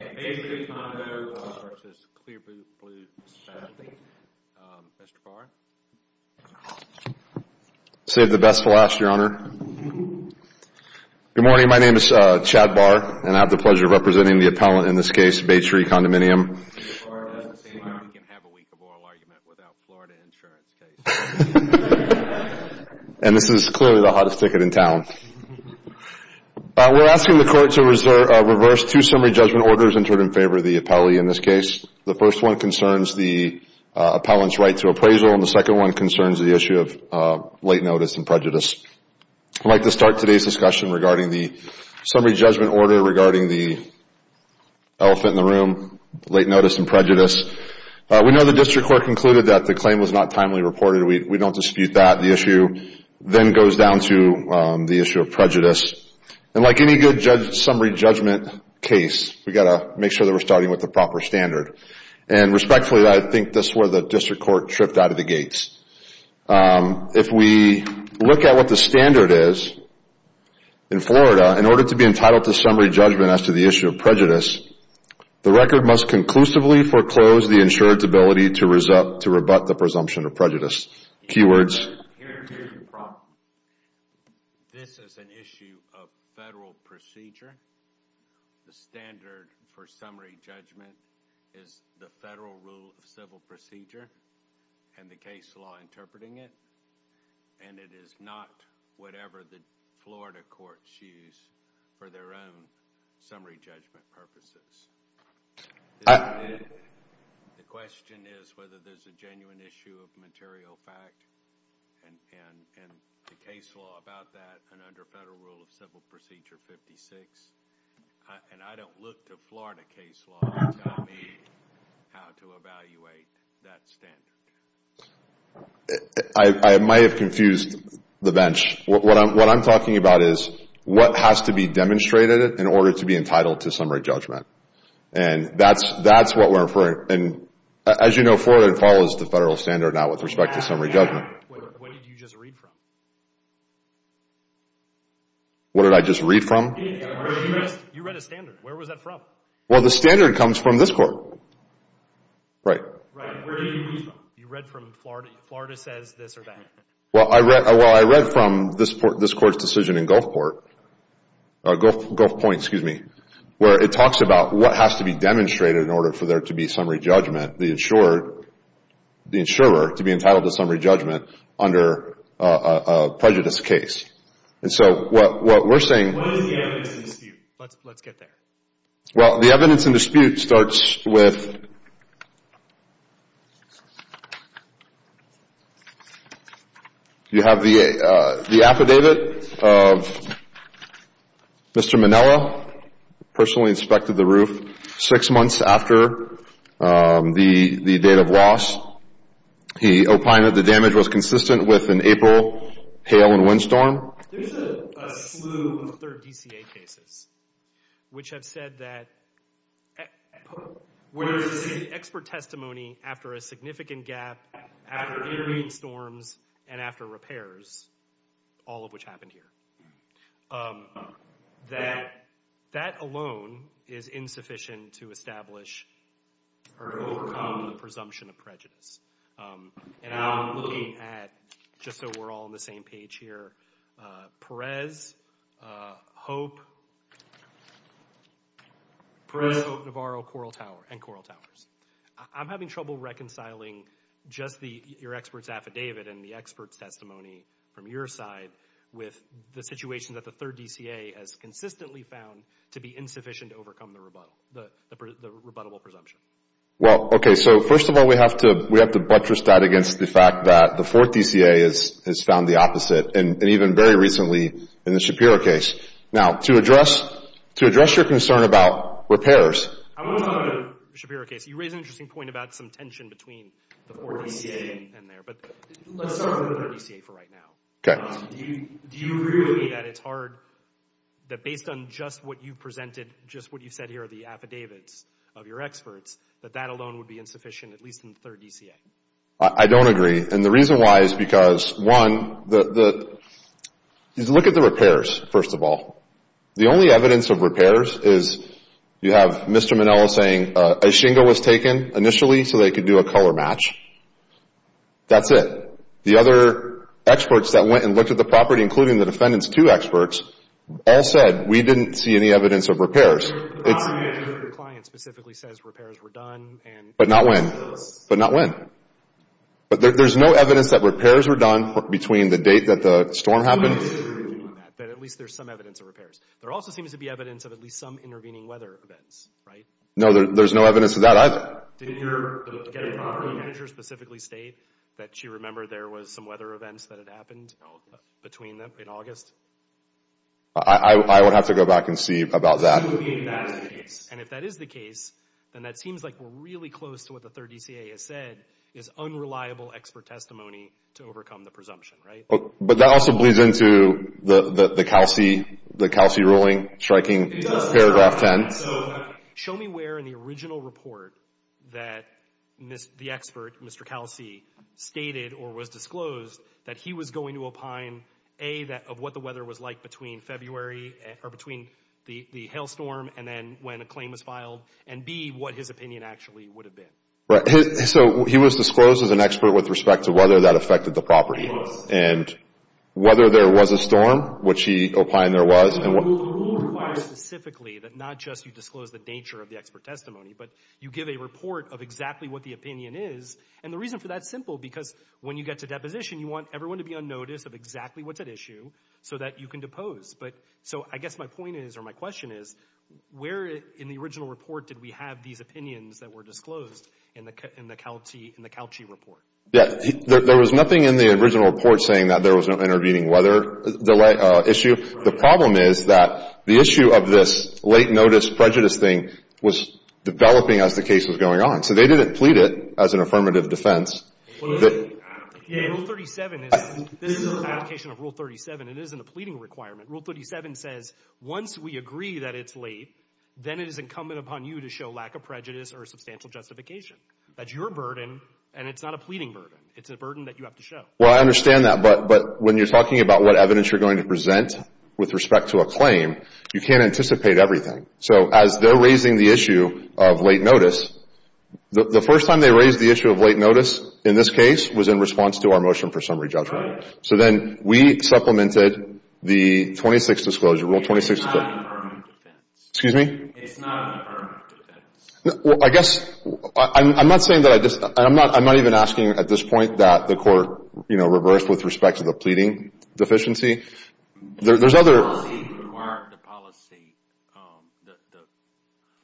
Baytree Condominium v. Clear Blue Specialty, Mr. Barr. Say the best for last, Your Honor. Good morning. My name is Chad Barr, and I have the pleasure of representing the appellant in this case, Baytree Condominium. We can have a week of oral argument without Florida insurance case. And this is clearly the hottest ticket in town. We're asking the court to reverse two summary judgment orders entered in favor of the appellee in this case. The first one concerns the appellant's right to appraisal, and the second one concerns the issue of late notice and prejudice. I'd like to start today's discussion regarding the summary judgment order regarding the elephant in the room, late notice and prejudice. We know the district court concluded that the claim was not timely reported. We don't dispute that. The issue then goes down to the issue of prejudice. And like any good summary judgment case, we've got to make sure that we're starting with the proper standard. And respectfully, I think this is where the district court tripped out of the gates. If we look at what the standard is in Florida, in order to be entitled to summary judgment as to the issue of prejudice, the record must conclusively foreclose the insured's ability to rebut the presumption of prejudice. Key words. Here's your problem. This is an issue of federal procedure. The standard for summary judgment is the federal rule of civil procedure and the case law interpreting it. And it is not whatever the Florida courts use for their own summary judgment purposes. The question is whether there's a genuine issue of material fact and the case law about that and under federal rule of civil procedure 56. And I don't look to Florida case law to tell me how to evaluate that standard. I might have confused the bench. What I'm talking about is what has to be demonstrated in order to be entitled to summary judgment. And that's what we're referring. And as you know, Florida follows the federal standard now with respect to summary judgment. What did you just read from? What did I just read from? You read a standard. Where was that from? Well, the standard comes from this court. Right. Where did you read from? You read from Florida. Florida says this or that. Well, I read from this court's decision in Gulfport, Gulf Point, excuse me, where it talks about what has to be demonstrated in order for there to be summary judgment, the insurer to be entitled to summary judgment under a prejudice case. And so what we're saying. What is the evidence in dispute? Let's get there. Well, the evidence in dispute starts with you have the affidavit of Mr. Manella, personally inspected the roof six months after the date of loss. He opined that the damage was consistent with an April hail and wind storm. There's a slew of other DCA cases which have said that where there's an expert testimony after a significant gap, after intervening storms, and after repairs, all of which happened here, that that alone is insufficient to establish or overcome the presumption of prejudice. And I'm looking at, just so we're all on the same page here, Perez, Hope, Perez, Hope, Navarro, Coral Tower, and Coral Towers. I'm having trouble reconciling just your expert's affidavit and the expert's testimony from your side with the situation that the third DCA has consistently found to be insufficient to overcome the rebuttal, the rebuttable presumption. Well, okay. So first of all, we have to buttress that against the fact that the fourth DCA has found the opposite, and even very recently in the Shapiro case. Now, to address your concern about repairs. I want to talk about the Shapiro case. You raise an interesting point about some tension between the fourth DCA and there, but let's start with the third DCA for right now. Okay. Do you agree with me that it's hard, that based on just what you presented, just what you said here are the affidavits of your experts, that that alone would be insufficient, at least in the third DCA? I don't agree, and the reason why is because, one, look at the repairs, first of all. The only evidence of repairs is you have Mr. Manello saying a shingle was taken initially so they could do a color match. That's it. The other experts that went and looked at the property, including the defendant's two experts, all said we didn't see any evidence of repairs. Your client specifically says repairs were done. But not when. But not when. But there's no evidence that repairs were done between the date that the storm happened. But at least there's some evidence of repairs. There also seems to be evidence of at least some intervening weather events, right? No, there's no evidence of that either. Did your property manager specifically state that she remembered there was some weather events that had happened between then and August? I would have to go back and see about that. And if that is the case, then that seems like we're really close to what the third DCA has said, is unreliable expert testimony to overcome the presumption, right? But that also bleeds into the Kelsey ruling striking paragraph 10. So show me where in the original report that the expert, Mr. Kelsey, stated or was disclosed that he was going to opine, A, of what the weather was like between February or between the hailstorm and then when a claim was filed, and, B, what his opinion actually would have been. Right. So he was disclosed as an expert with respect to whether that affected the property. It was. And whether there was a storm, which he opined there was. The rule requires specifically that not just you disclose the nature of the expert testimony, but you give a report of exactly what the opinion is. And the reason for that is simple, because when you get to deposition, you want everyone to be on notice of exactly what's at issue so that you can depose. So I guess my point is, or my question is, where in the original report did we have these opinions that were disclosed in the Kelsey report? Yeah. There was nothing in the original report saying that there was no intervening weather issue. The problem is that the issue of this late notice prejudice thing was developing as the case was going on. So they didn't plead it as an affirmative defense. Rule 37 is, this is an application of Rule 37. It isn't a pleading requirement. Rule 37 says once we agree that it's late, then it is incumbent upon you to show lack of prejudice or substantial justification. That's your burden, and it's not a pleading burden. It's a burden that you have to show. Well, I understand that. But when you're talking about what evidence you're going to present with respect to a claim, you can't anticipate everything. So as they're raising the issue of late notice, the first time they raised the issue of late notice in this case was in response to our motion for summary judgment. So then we supplemented the 26th disclosure, Rule 26. It's not an affirmative defense. Excuse me? It's not an affirmative defense. Well, I guess, I'm not saying that I disagree. I'm not even asking at this point that the court, you know, reverse with respect to the pleading deficiency. The policy required the policy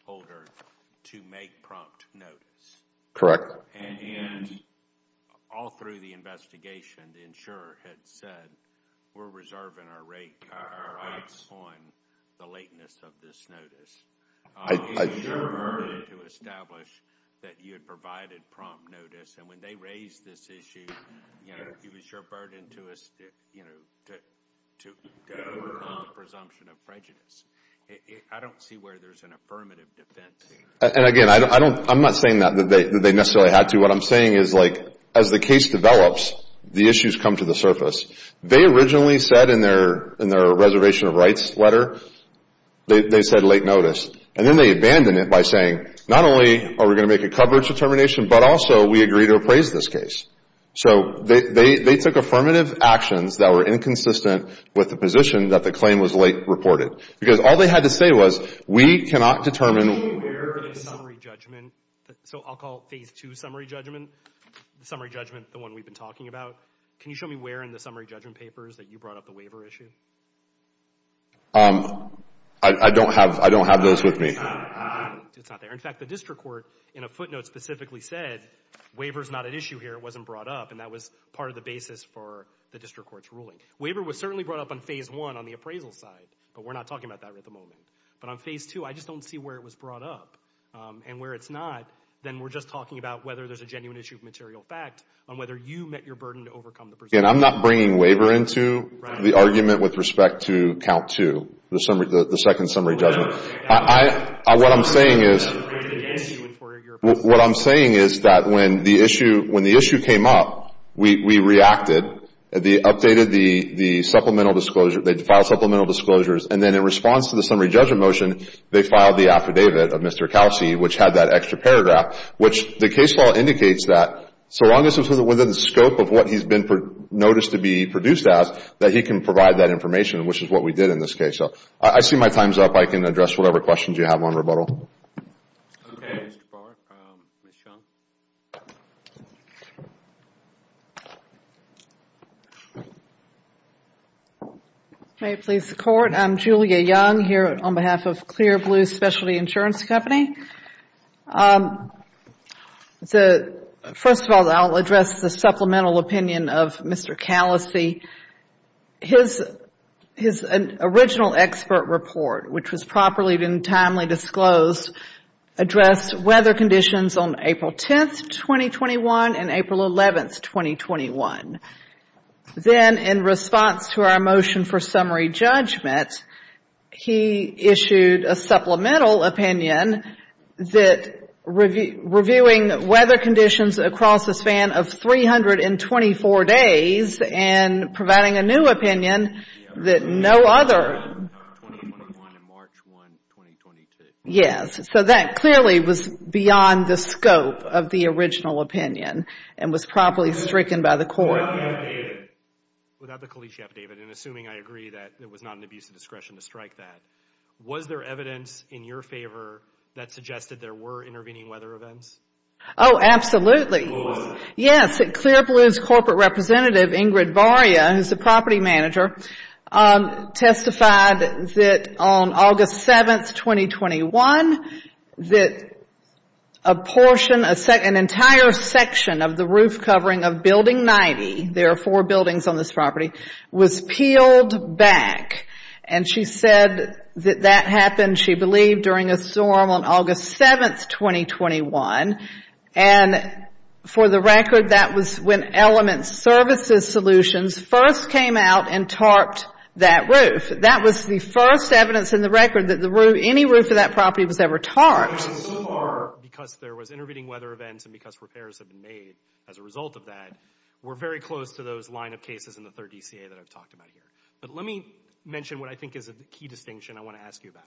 holder to make prompt notice. And all through the investigation, the insurer had said, we're reserving our rights on the lateness of this notice. It was your burden to establish that you had provided prompt notice. And when they raised this issue, you know, it was your burden to, you know, to go around the presumption of prejudice. I don't see where there's an affirmative defense. And again, I'm not saying that they necessarily had to. What I'm saying is, like, as the case develops, the issues come to the surface. They originally said in their reservation of rights letter, they said late notice. And then they abandoned it by saying, not only are we going to make a coverage determination, but also we agree to appraise this case. So they took affirmative actions that were inconsistent with the position that the claim was late reported. Because all they had to say was, we cannot determine where the summary judgment. So I'll call phase two summary judgment, the summary judgment, the one we've been talking about. Can you show me where in the summary judgment papers that you brought up the waiver issue? I don't have those with me. It's not there. In fact, the district court in a footnote specifically said, waiver is not an issue here. It wasn't brought up. And that was part of the basis for the district court's ruling. Waiver was certainly brought up on phase one on the appraisal side, but we're not talking about that at the moment. But on phase two, I just don't see where it was brought up. And where it's not, then we're just talking about whether there's a genuine issue of material fact on whether you met your burden to overcome the presumption. And I'm not bringing waiver into the argument with respect to count two, the second summary judgment. What I'm saying is that when the issue came up, we reacted. They updated the supplemental disclosure. They filed supplemental disclosures. And then in response to the summary judgment motion, they filed the affidavit of Mr. Kelsey, which had that extra paragraph, which the case law indicates that so long as it's within the scope of what he's been noticed to be produced as, that he can provide that information, which is what we did in this case. So I see my time's up. I can address whatever questions you have on rebuttal. Okay, Mr. Barr. Ms. Young? May it please the Court? I'm Julia Young here on behalf of Clear Blue Specialty Insurance Company. First of all, I'll address the supplemental opinion of Mr. Kelsey. His original expert report, which was properly and timely disclosed, addressed weather conditions on April 10th, 2021 and April 11th, 2021. Then in response to our motion for summary judgment, he issued a supplemental opinion that reviewing weather conditions across the span of 324 days and providing a new opinion that no other. Yes. So that clearly was beyond the scope of the original opinion and was properly stricken by the Court. Without the affidavit, and assuming I agree that it was not an abuse of discretion to strike that, was there evidence in your favor that suggested there were intervening weather events? Oh, absolutely. Yes. Clear Blue's corporate representative, Ingrid Barria, who's the property manager, testified that on August 7th, 2021, that an entire section of the roof covering of Building 90, there are four buildings on this property, was peeled back. And she said that that happened, she believed, during a storm on August 7th, 2021. And for the record, that was when Element Services Solutions first came out and tarped that roof. That was the first evidence in the record that any roof of that property was ever tarped. So far, because there was intervening weather events and because repairs have been made as a result of that, we're very close to those line of cases in the third DCA that I've talked about here. But let me mention what I think is a key distinction I want to ask you about.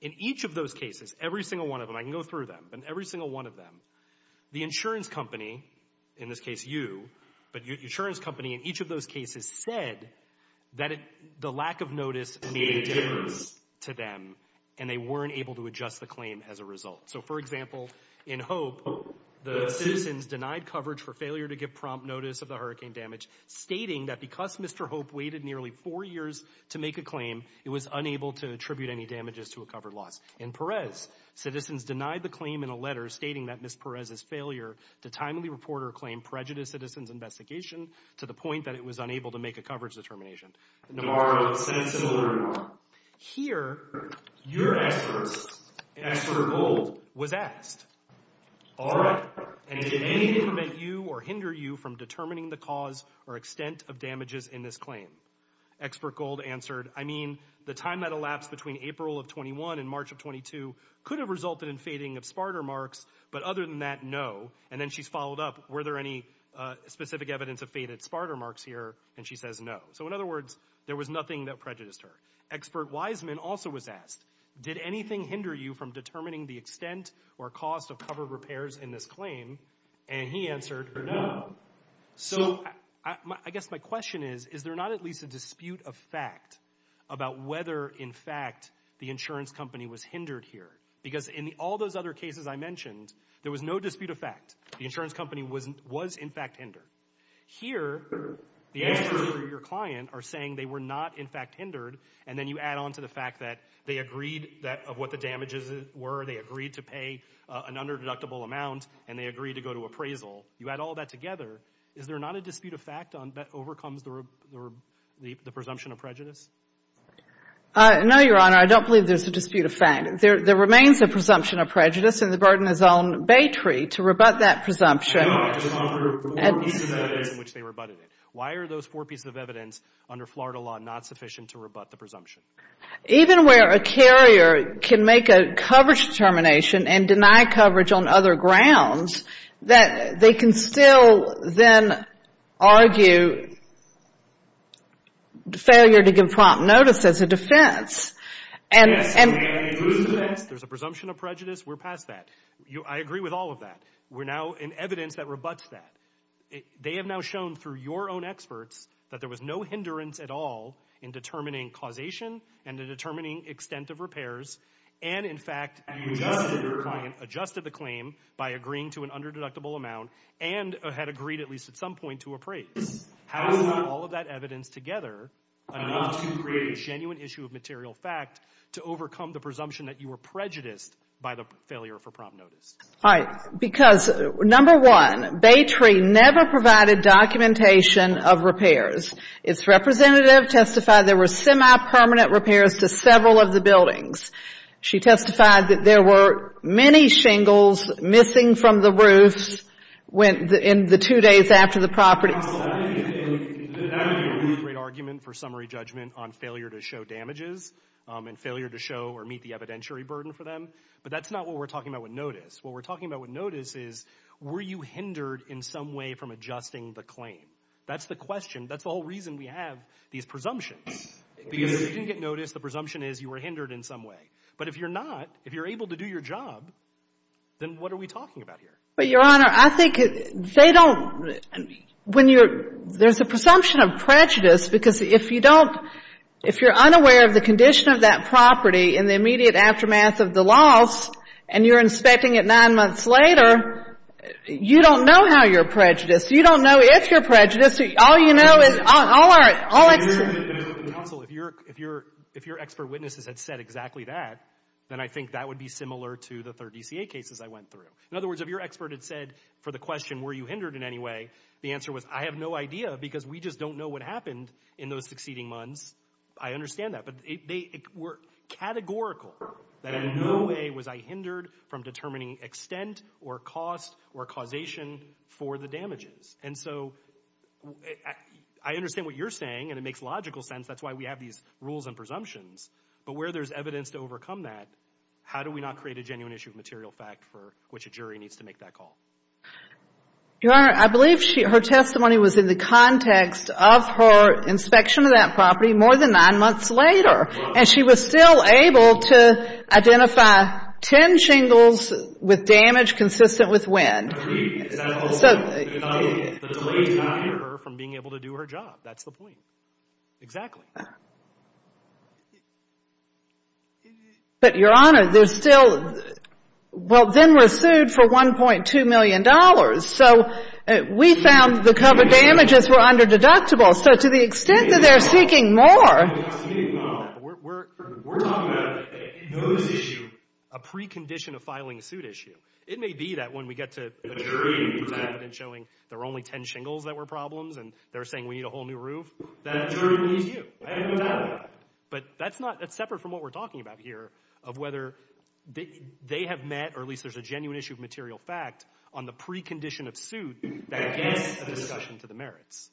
In each of those cases, every single one of them, I can go through them, but in every single one of them, the insurance company, in this case you, but the insurance company in each of those cases said that the lack of notice made a difference to them, and they weren't able to adjust the claim as a result. So, for example, in Hope, the citizens denied coverage for failure to give prompt notice of the hurricane damage, stating that because Mr. Hope waited nearly four years to make a claim, it was unable to attribute any damages to a covered loss. In Perez, citizens denied the claim in a letter stating that Ms. Perez's failure to timely report or claim prejudiced citizens' investigation to the point that it was unable to make a coverage determination. In Navarro, a sentence similar to Navarro, here, your experts, expert Gold, was asked, all right, and did anything prevent you or hinder you from determining the cause or extent of damages in this claim? Expert Gold answered, I mean, the time that elapsed between April of 21 and March of 22 could have resulted in fading of SPARTA marks, but other than that, no. And then she's followed up, were there any specific evidence of faded SPARTA marks here? And she says no. So, in other words, there was nothing that prejudiced her. Expert Wiseman also was asked, did anything hinder you from determining the extent or cost of covered repairs in this claim? And he answered, no. So, I guess my question is, is there not at least a dispute of fact about whether, in fact, the insurance company was hindered here? Because in all those other cases I mentioned, there was no dispute of fact. The insurance company was in fact hindered. Here, the experts for your client are saying they were not, in fact, hindered, and then you add on to the fact that they agreed of what the damages were, they agreed to pay an under-deductible amount, and they agreed to go to appraisal. You add all that together. Is there not a dispute of fact that overcomes the presumption of prejudice? No, Your Honor, I don't believe there's a dispute of fact. There remains a presumption of prejudice, and the burden is on Baytree to rebut that presumption. No, I just want to hear the four pieces of evidence in which they rebutted it. Why are those four pieces of evidence under Florida law not sufficient to rebut the presumption? Even where a carrier can make a coverage determination and deny coverage on other grounds, they can still then argue failure to give prompt notice as a defense. Yes, and that includes defense. There's a presumption of prejudice. We're past that. I agree with all of that. We're now in evidence that rebuts that. They have now shown through your own experts that there was no hindrance at all in determining causation and in determining extent of repairs, and, in fact, you adjusted the claim by agreeing to an under-deductible amount and had agreed at least at some point to appraise. How is not all of that evidence together enough to create a genuine issue of material fact to overcome the presumption that you were prejudiced by the failure for prompt notice? All right. Because, number one, Baytree never provided documentation of repairs. Its representative testified there were semi-permanent repairs to several of the buildings. She testified that there were many shingles missing from the roofs in the two days after the property. That would be a great argument for summary judgment on failure to show damages and failure to show or meet the evidentiary burden for them, but that's not what we're talking about with notice. What we're talking about with notice is were you hindered in some way from adjusting the claim? That's the question. That's the whole reason we have these presumptions, because if you didn't get noticed, the presumption is you were hindered in some way. But if you're not, if you're able to do your job, then what are we talking about here? But, Your Honor, I think they don't – when you're – there's a presumption of prejudice because if you don't – if you're unaware of the condition of that property in the immediate aftermath of the loss and you're inspecting it nine months later, you don't know how you're prejudiced. You don't know if you're prejudiced. All you know is – all our – all it's – Counsel, if your – if your expert witnesses had said exactly that, then I think that would be similar to the third DCA cases I went through. In other words, if your expert had said for the question were you hindered in any way, the answer was I have no idea because we just don't know what happened in those succeeding months. I understand that. But they were categorical that in no way was I hindered from determining extent or cost or causation for the damages. And so I understand what you're saying and it makes logical sense. That's why we have these rules and presumptions. But where there's evidence to overcome that, how do we not create a genuine issue of material fact for which a jury needs to make that call? Your Honor, I believe her testimony was in the context of her inspection of that property more than nine months later. And she was still able to identify ten shingles with damage consistent with wind. Agreed. So – The delay stopped her from being able to do her job. That's the point. Exactly. But, Your Honor, there's still – well, then we're sued for $1.2 million. So we found the covered damages were under-deductible. So to the extent that they're seeking more – We're not seeking more than that. We're talking about in those issues a precondition of filing a suit issue. It may be that when we get to a jury who has evidence showing there were only ten shingles that were problems and they're saying we need a whole new roof, that jury needs you. I have no doubt about that. But that's not – that's separate from what we're talking about here of whether they have met or at least there's a genuine issue of material fact on the precondition of suit that gets a discussion to the merits.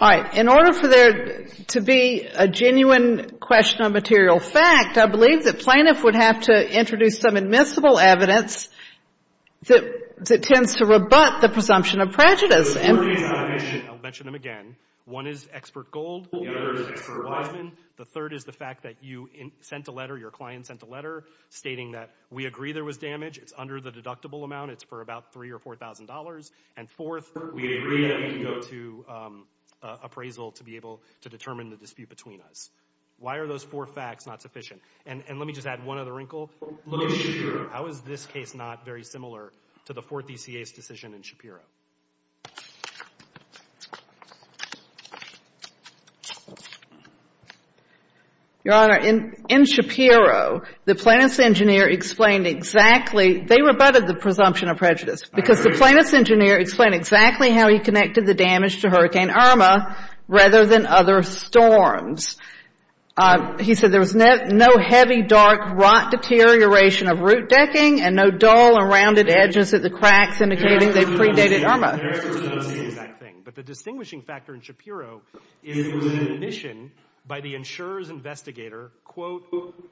All right. In order for there to be a genuine question of material fact, I believe the plaintiff would have to introduce some admissible evidence that tends to rebut the presumption of prejudice. I'll mention them again. One is expert gold. The other is expert watchman. The third is the fact that you sent a letter, your client sent a letter, stating that we agree there was damage. It's under the deductible amount. It's for about $3,000 or $4,000. And fourth, we agree that we can go to appraisal to be able to determine the dispute between us. Why are those four facts not sufficient? And let me just add one other wrinkle. Look at Shapiro. How is this case not very similar to the fourth ECA's decision in Shapiro? Your Honor, in Shapiro, the plaintiff's engineer explained exactly – they rebutted the presumption of prejudice. Because the plaintiff's engineer explained exactly how he connected the damage to Hurricane Irma rather than other storms. He said there was no heavy, dark rot deterioration of root decking and no dull or rounded edges at the cracks indicating they predated Irma. But the distinguishing factor in Shapiro is the admission by the insurer's investigator, quote,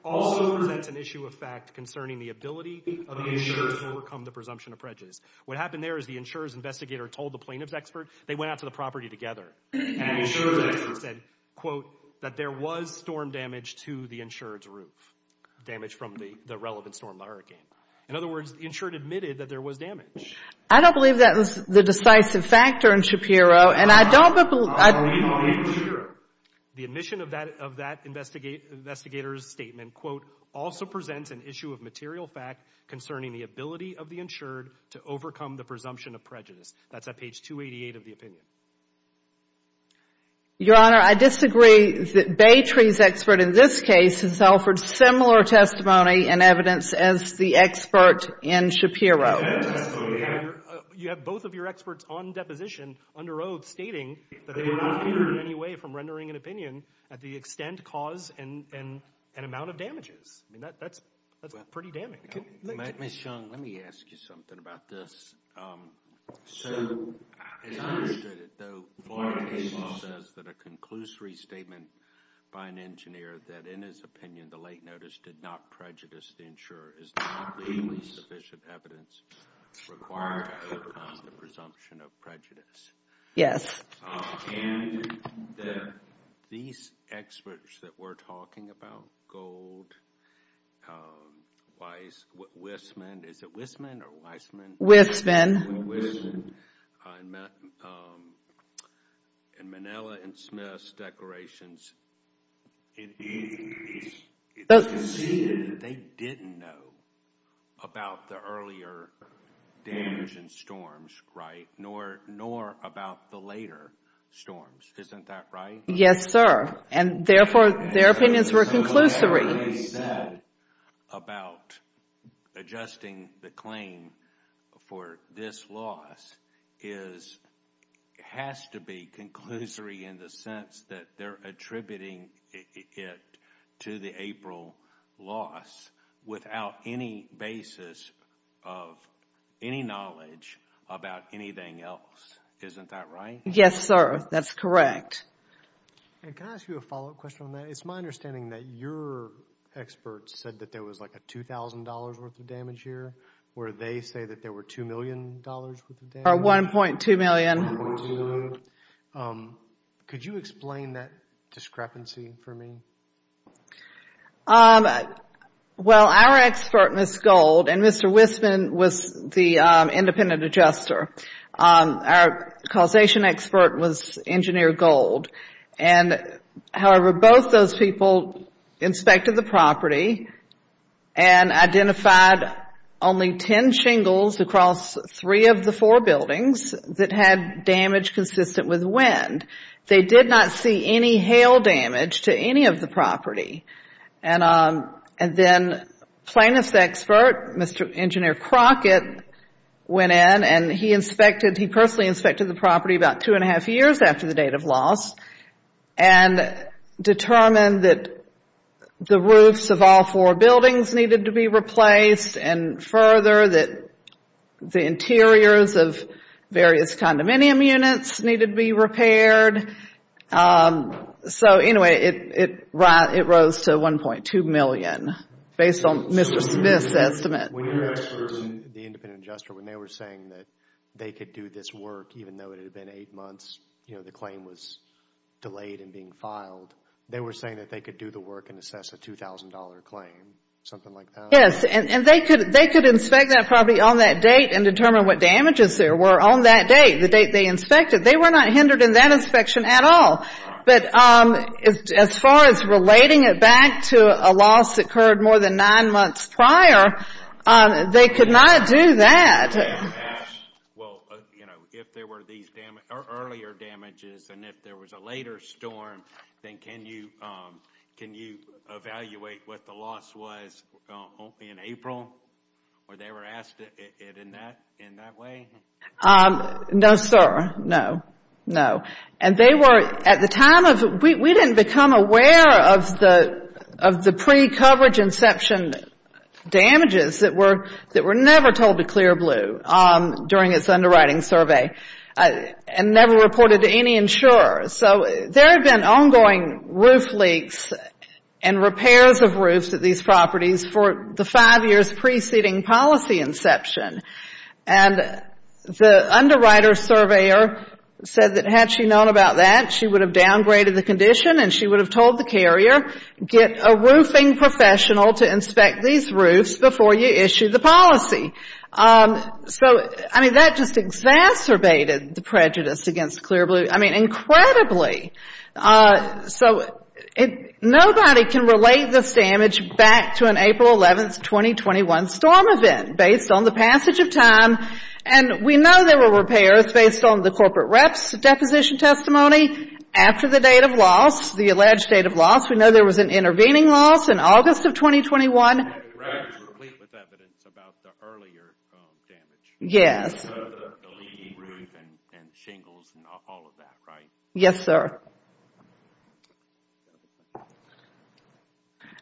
also presents an issue of fact concerning the ability of the insurer to overcome the presumption of prejudice. What happened there is the insurer's investigator told the plaintiff's expert. They went out to the property together. And the insurer's expert said, quote, that there was storm damage to the insurer's roof, damage from the relevant storm, the hurricane. In other words, the insurer admitted that there was damage. I don't believe that was the decisive factor in Shapiro. And I don't believe – I don't believe in Shapiro. The admission of that investigator's statement, quote, also presents an issue of material fact concerning the ability of the insured to overcome the presumption of prejudice. That's at page 288 of the opinion. Your Honor, I disagree that Baytree's expert in this case has offered similar testimony and evidence as the expert in Shapiro. You have both of your experts on deposition under oath stating that they were not hindered in any way from rendering an opinion at the extent, cause, and amount of damages. I mean, that's pretty damning. Ms. Young, let me ask you something about this. So as I understood it, though, Florida case law says that a conclusory statement by an engineer that, in his opinion, the late notice did not prejudice the insurer is not legally sufficient evidence required to overcome the presumption of prejudice. Yes. And these experts that we're talking about, Gold, Wiseman, is it Wiseman or Wiseman? Wiseman. Wiseman. And Manella and Smith's declarations, it's conceivable that they didn't know about the earlier damage and storms, right, nor about the later storms. Isn't that right? Yes, sir. And, therefore, their opinions were conclusory. What they said about adjusting the claim for this loss has to be conclusory in the sense that they're attributing it to the April loss without any basis of any knowledge about anything else. Isn't that right? Yes, sir. That's correct. And can I ask you a follow-up question on that? It's my understanding that your experts said that there was like a $2,000 worth of damage here, where they say that there were $2 million worth of damage. Or $1.2 million. Could you explain that discrepancy for me? Well, our expert, Ms. Gold, and Mr. Wiseman was the independent adjuster. Our causation expert was Engineer Gold. And, however, both those people inspected the property and identified only 10 shingles across three of the four buildings that had damage consistent with wind. They did not see any hail damage to any of the property. And then plaintiff's expert, Mr. Engineer Crockett, went in, and he personally inspected the property about two and a half years after the date of loss and determined that the roofs of all four buildings needed to be replaced and, further, that the interiors of various condominium units needed to be repaired. So, anyway, it rose to $1.2 million, based on Mr. Smith's estimate. When you asked the independent adjuster, when they were saying that they could do this work, even though it had been eight months, you know, the claim was delayed and being filed, they were saying that they could do the work and assess a $2,000 claim, something like that? Yes, and they could inspect that property on that date and determine what damages there were on that date, the date they inspected. They were not hindered in that inspection at all. But as far as relating it back to a loss that occurred more than nine months prior, they could not do that. Well, you know, if there were these earlier damages and if there was a later storm, then can you evaluate what the loss was only in April, or they were asked it in that way? No, sir. No. No. And they were, at the time of, we didn't become aware of the pre-coverage inception damages that were never told to Clear Blue during its underwriting survey and never reported to any insurer. So there had been ongoing roof leaks and repairs of roofs at these properties for the five years preceding policy inception. And the underwriter surveyor said that had she known about that, she would have downgraded the condition and she would have told the carrier, get a roofing professional to inspect these roofs before you issue the policy. So, I mean, that just exacerbated the prejudice against Clear Blue. I mean, incredibly. So nobody can relate this damage back to an April 11, 2021 storm event based on the passage of time. And we know there were repairs based on the corporate rep's deposition testimony after the date of loss, the alleged date of loss. We know there was an intervening loss in August of 2021. Complete with evidence about the earlier damage. The leaking roof and shingles and all of that, right? Yes, sir.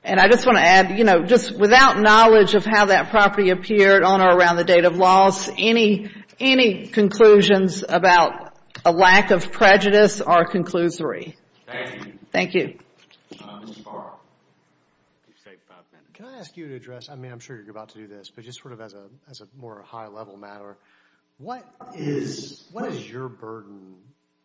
And I just want to add, you know, just without knowledge of how that property appeared on or around the date of loss, any conclusions about a lack of prejudice are a conclusory. Thank you. Thank you. Mr. Barr. Can I ask you to address, I mean, I'm sure you're about to do this, but just sort of as a more high-level matter, what is your burden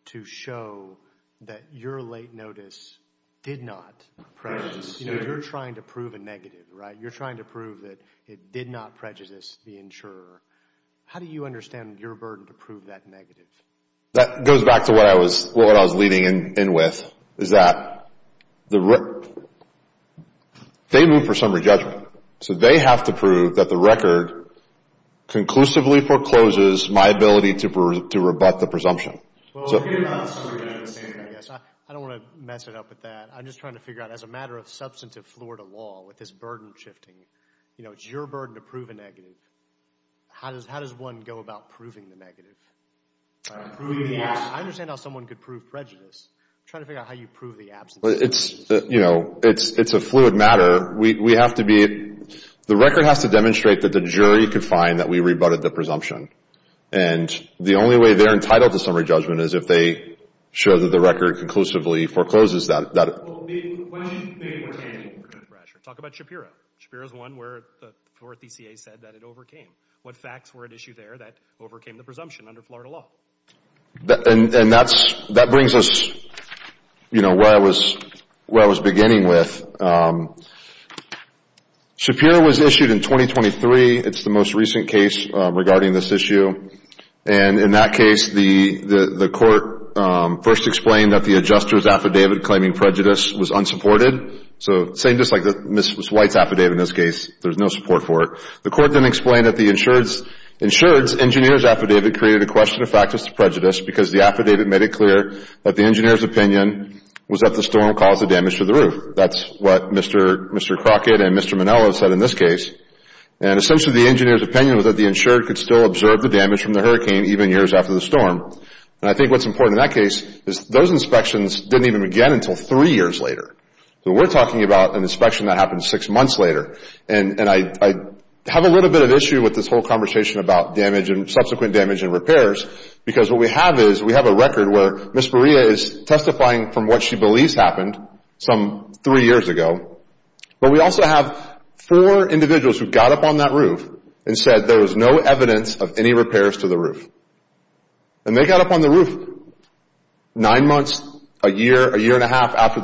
to show that your late notice did not prejudice? You know, you're trying to prove a negative, right? You're trying to prove that it did not prejudice the insurer. How do you understand your burden to prove that negative? That goes back to what I was leading in with, is that they move for summary judgment. So they have to prove that the record conclusively forecloses my ability to rebut the presumption. Well, I don't want to mess it up with that. I'm just trying to figure out as a matter of substantive Florida law with this burden shifting, you know, it's your burden to prove a negative. How does one go about proving the negative? Proving the absence. I understand how someone could prove prejudice. I'm trying to figure out how you prove the absence. It's, you know, it's a fluid matter. We have to be, the record has to demonstrate that the jury could find that we rebutted the presumption. And the only way they're entitled to summary judgment is if they show that the record conclusively forecloses that. Talk about Shapiro. Shapiro is one where the Florida DCA said that it overcame. What facts were at issue there that overcame the presumption under Florida law? And that brings us, you know, where I was beginning with. Shapiro was issued in 2023. It's the most recent case regarding this issue. And in that case, the court first explained that the adjuster's affidavit claiming prejudice was unsupported. So same just like Ms. White's affidavit in this case, there's no support for it. The court then explained that the insured's engineer's affidavit created a question of factus to prejudice because the affidavit made it clear that the engineer's opinion was that the storm caused the damage to the roof. That's what Mr. Crockett and Mr. Manello said in this case. And essentially the engineer's opinion was that the insured could still observe the damage from the hurricane even years after the storm. And I think what's important in that case is those inspections didn't even begin until three years later. So we're talking about an inspection that happened six months later. And I have a little bit of issue with this whole conversation about damage and subsequent damage and repairs because what we have is we have a record where Ms. Berea is testifying from what she believes happened some three years ago, but we also have four individuals who got up on that roof and said there was no evidence of any repairs to the roof. And they got up on the roof nine months, a year, a year and a half after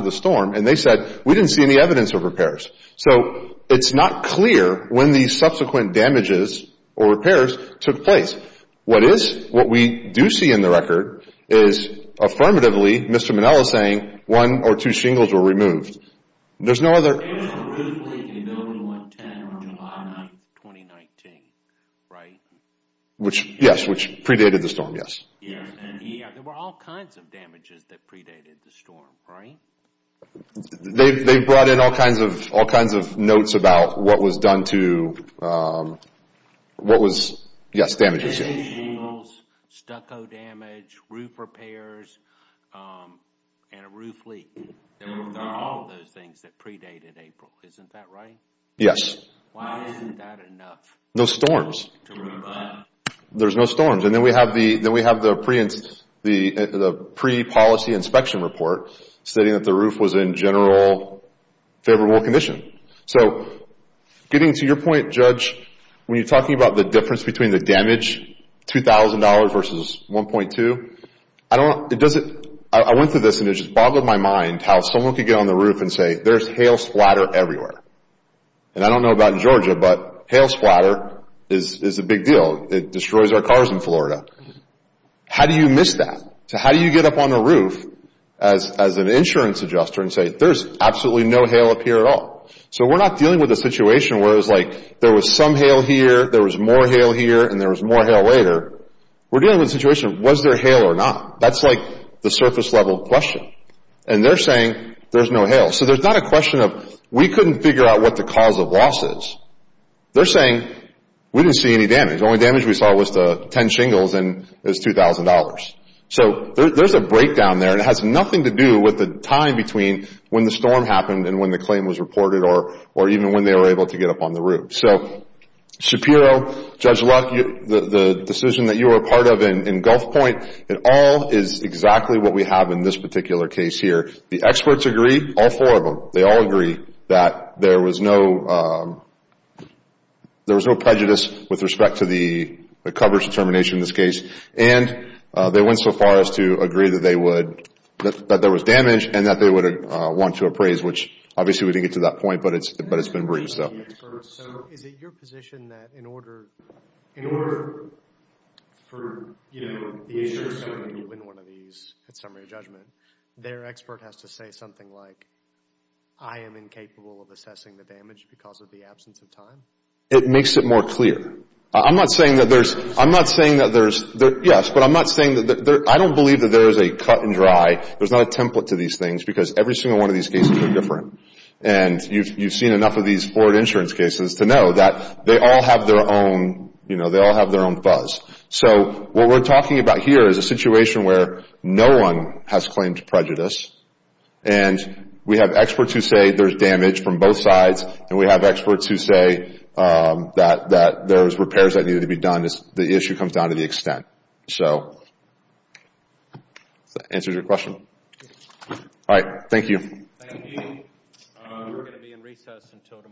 the storm, and they said we didn't see any evidence of repairs. So it's not clear when these subsequent damages or repairs took place. What is, what we do see in the record is affirmatively Mr. Manello saying one or two shingles were removed. There's no other. There was a roof leak in Building 110 on July 9th, 2019, right? Yes, which predated the storm, yes. Yes, and there were all kinds of damages that predated the storm, right? They brought in all kinds of notes about what was done to, what was, yes, damages. Shingles, stucco damage, roof repairs, and a roof leak. There are all those things that predated April. Isn't that right? Yes. Why isn't that enough? No storms. There's no storms. And then we have the pre-policy inspection report stating that the roof was in general favorable condition. So getting to your point, Judge, when you're talking about the difference between the damage, $2,000 versus 1.2, I don't, it doesn't, I went through this and it just boggled my mind how someone could get on the roof and say there's hail splatter everywhere. And I don't know about in Georgia, but hail splatter is a big deal. It destroys our cars in Florida. How do you miss that? So how do you get up on the roof as an insurance adjuster and say there's absolutely no hail up here at all? So we're not dealing with a situation where it was like there was some hail here, there was more hail here, and there was more hail later. We're dealing with a situation of was there hail or not? That's like the surface level question. And they're saying there's no hail. So there's not a question of we couldn't figure out what the cause of loss is. They're saying we didn't see any damage. The only damage we saw was the 10 shingles and it was $2,000. So there's a breakdown there and it has nothing to do with the time between when the storm happened and when the claim was reported or even when they were able to get up on the roof. So Shapiro, Judge Luck, the decision that you were a part of in Gulf Point, it all is exactly what we have in this particular case here. The experts agree, all four of them. They all agree that there was no prejudice with respect to the coverage determination in this case. And they went so far as to agree that there was damage and that they would want to appraise, which obviously we didn't get to that point, but it's been brief. So is it your position that in order for the insurance company to win one of these at summary judgment, their expert has to say something like, I am incapable of assessing the damage because of the absence of time? It makes it more clear. I'm not saying that there's – yes, but I'm not saying that – I don't believe that there is a cut and dry. There's not a template to these things because every single one of these cases are different. And you've seen enough of these forward insurance cases to know that they all have their own buzz. So what we're talking about here is a situation where no one has claimed prejudice, and we have experts who say there's damage from both sides, and we have experts who say that there's repairs that need to be done. The issue comes down to the extent. So does that answer your question? All right. Thank you. Thank you. We're going to be in recess until tomorrow. All rise.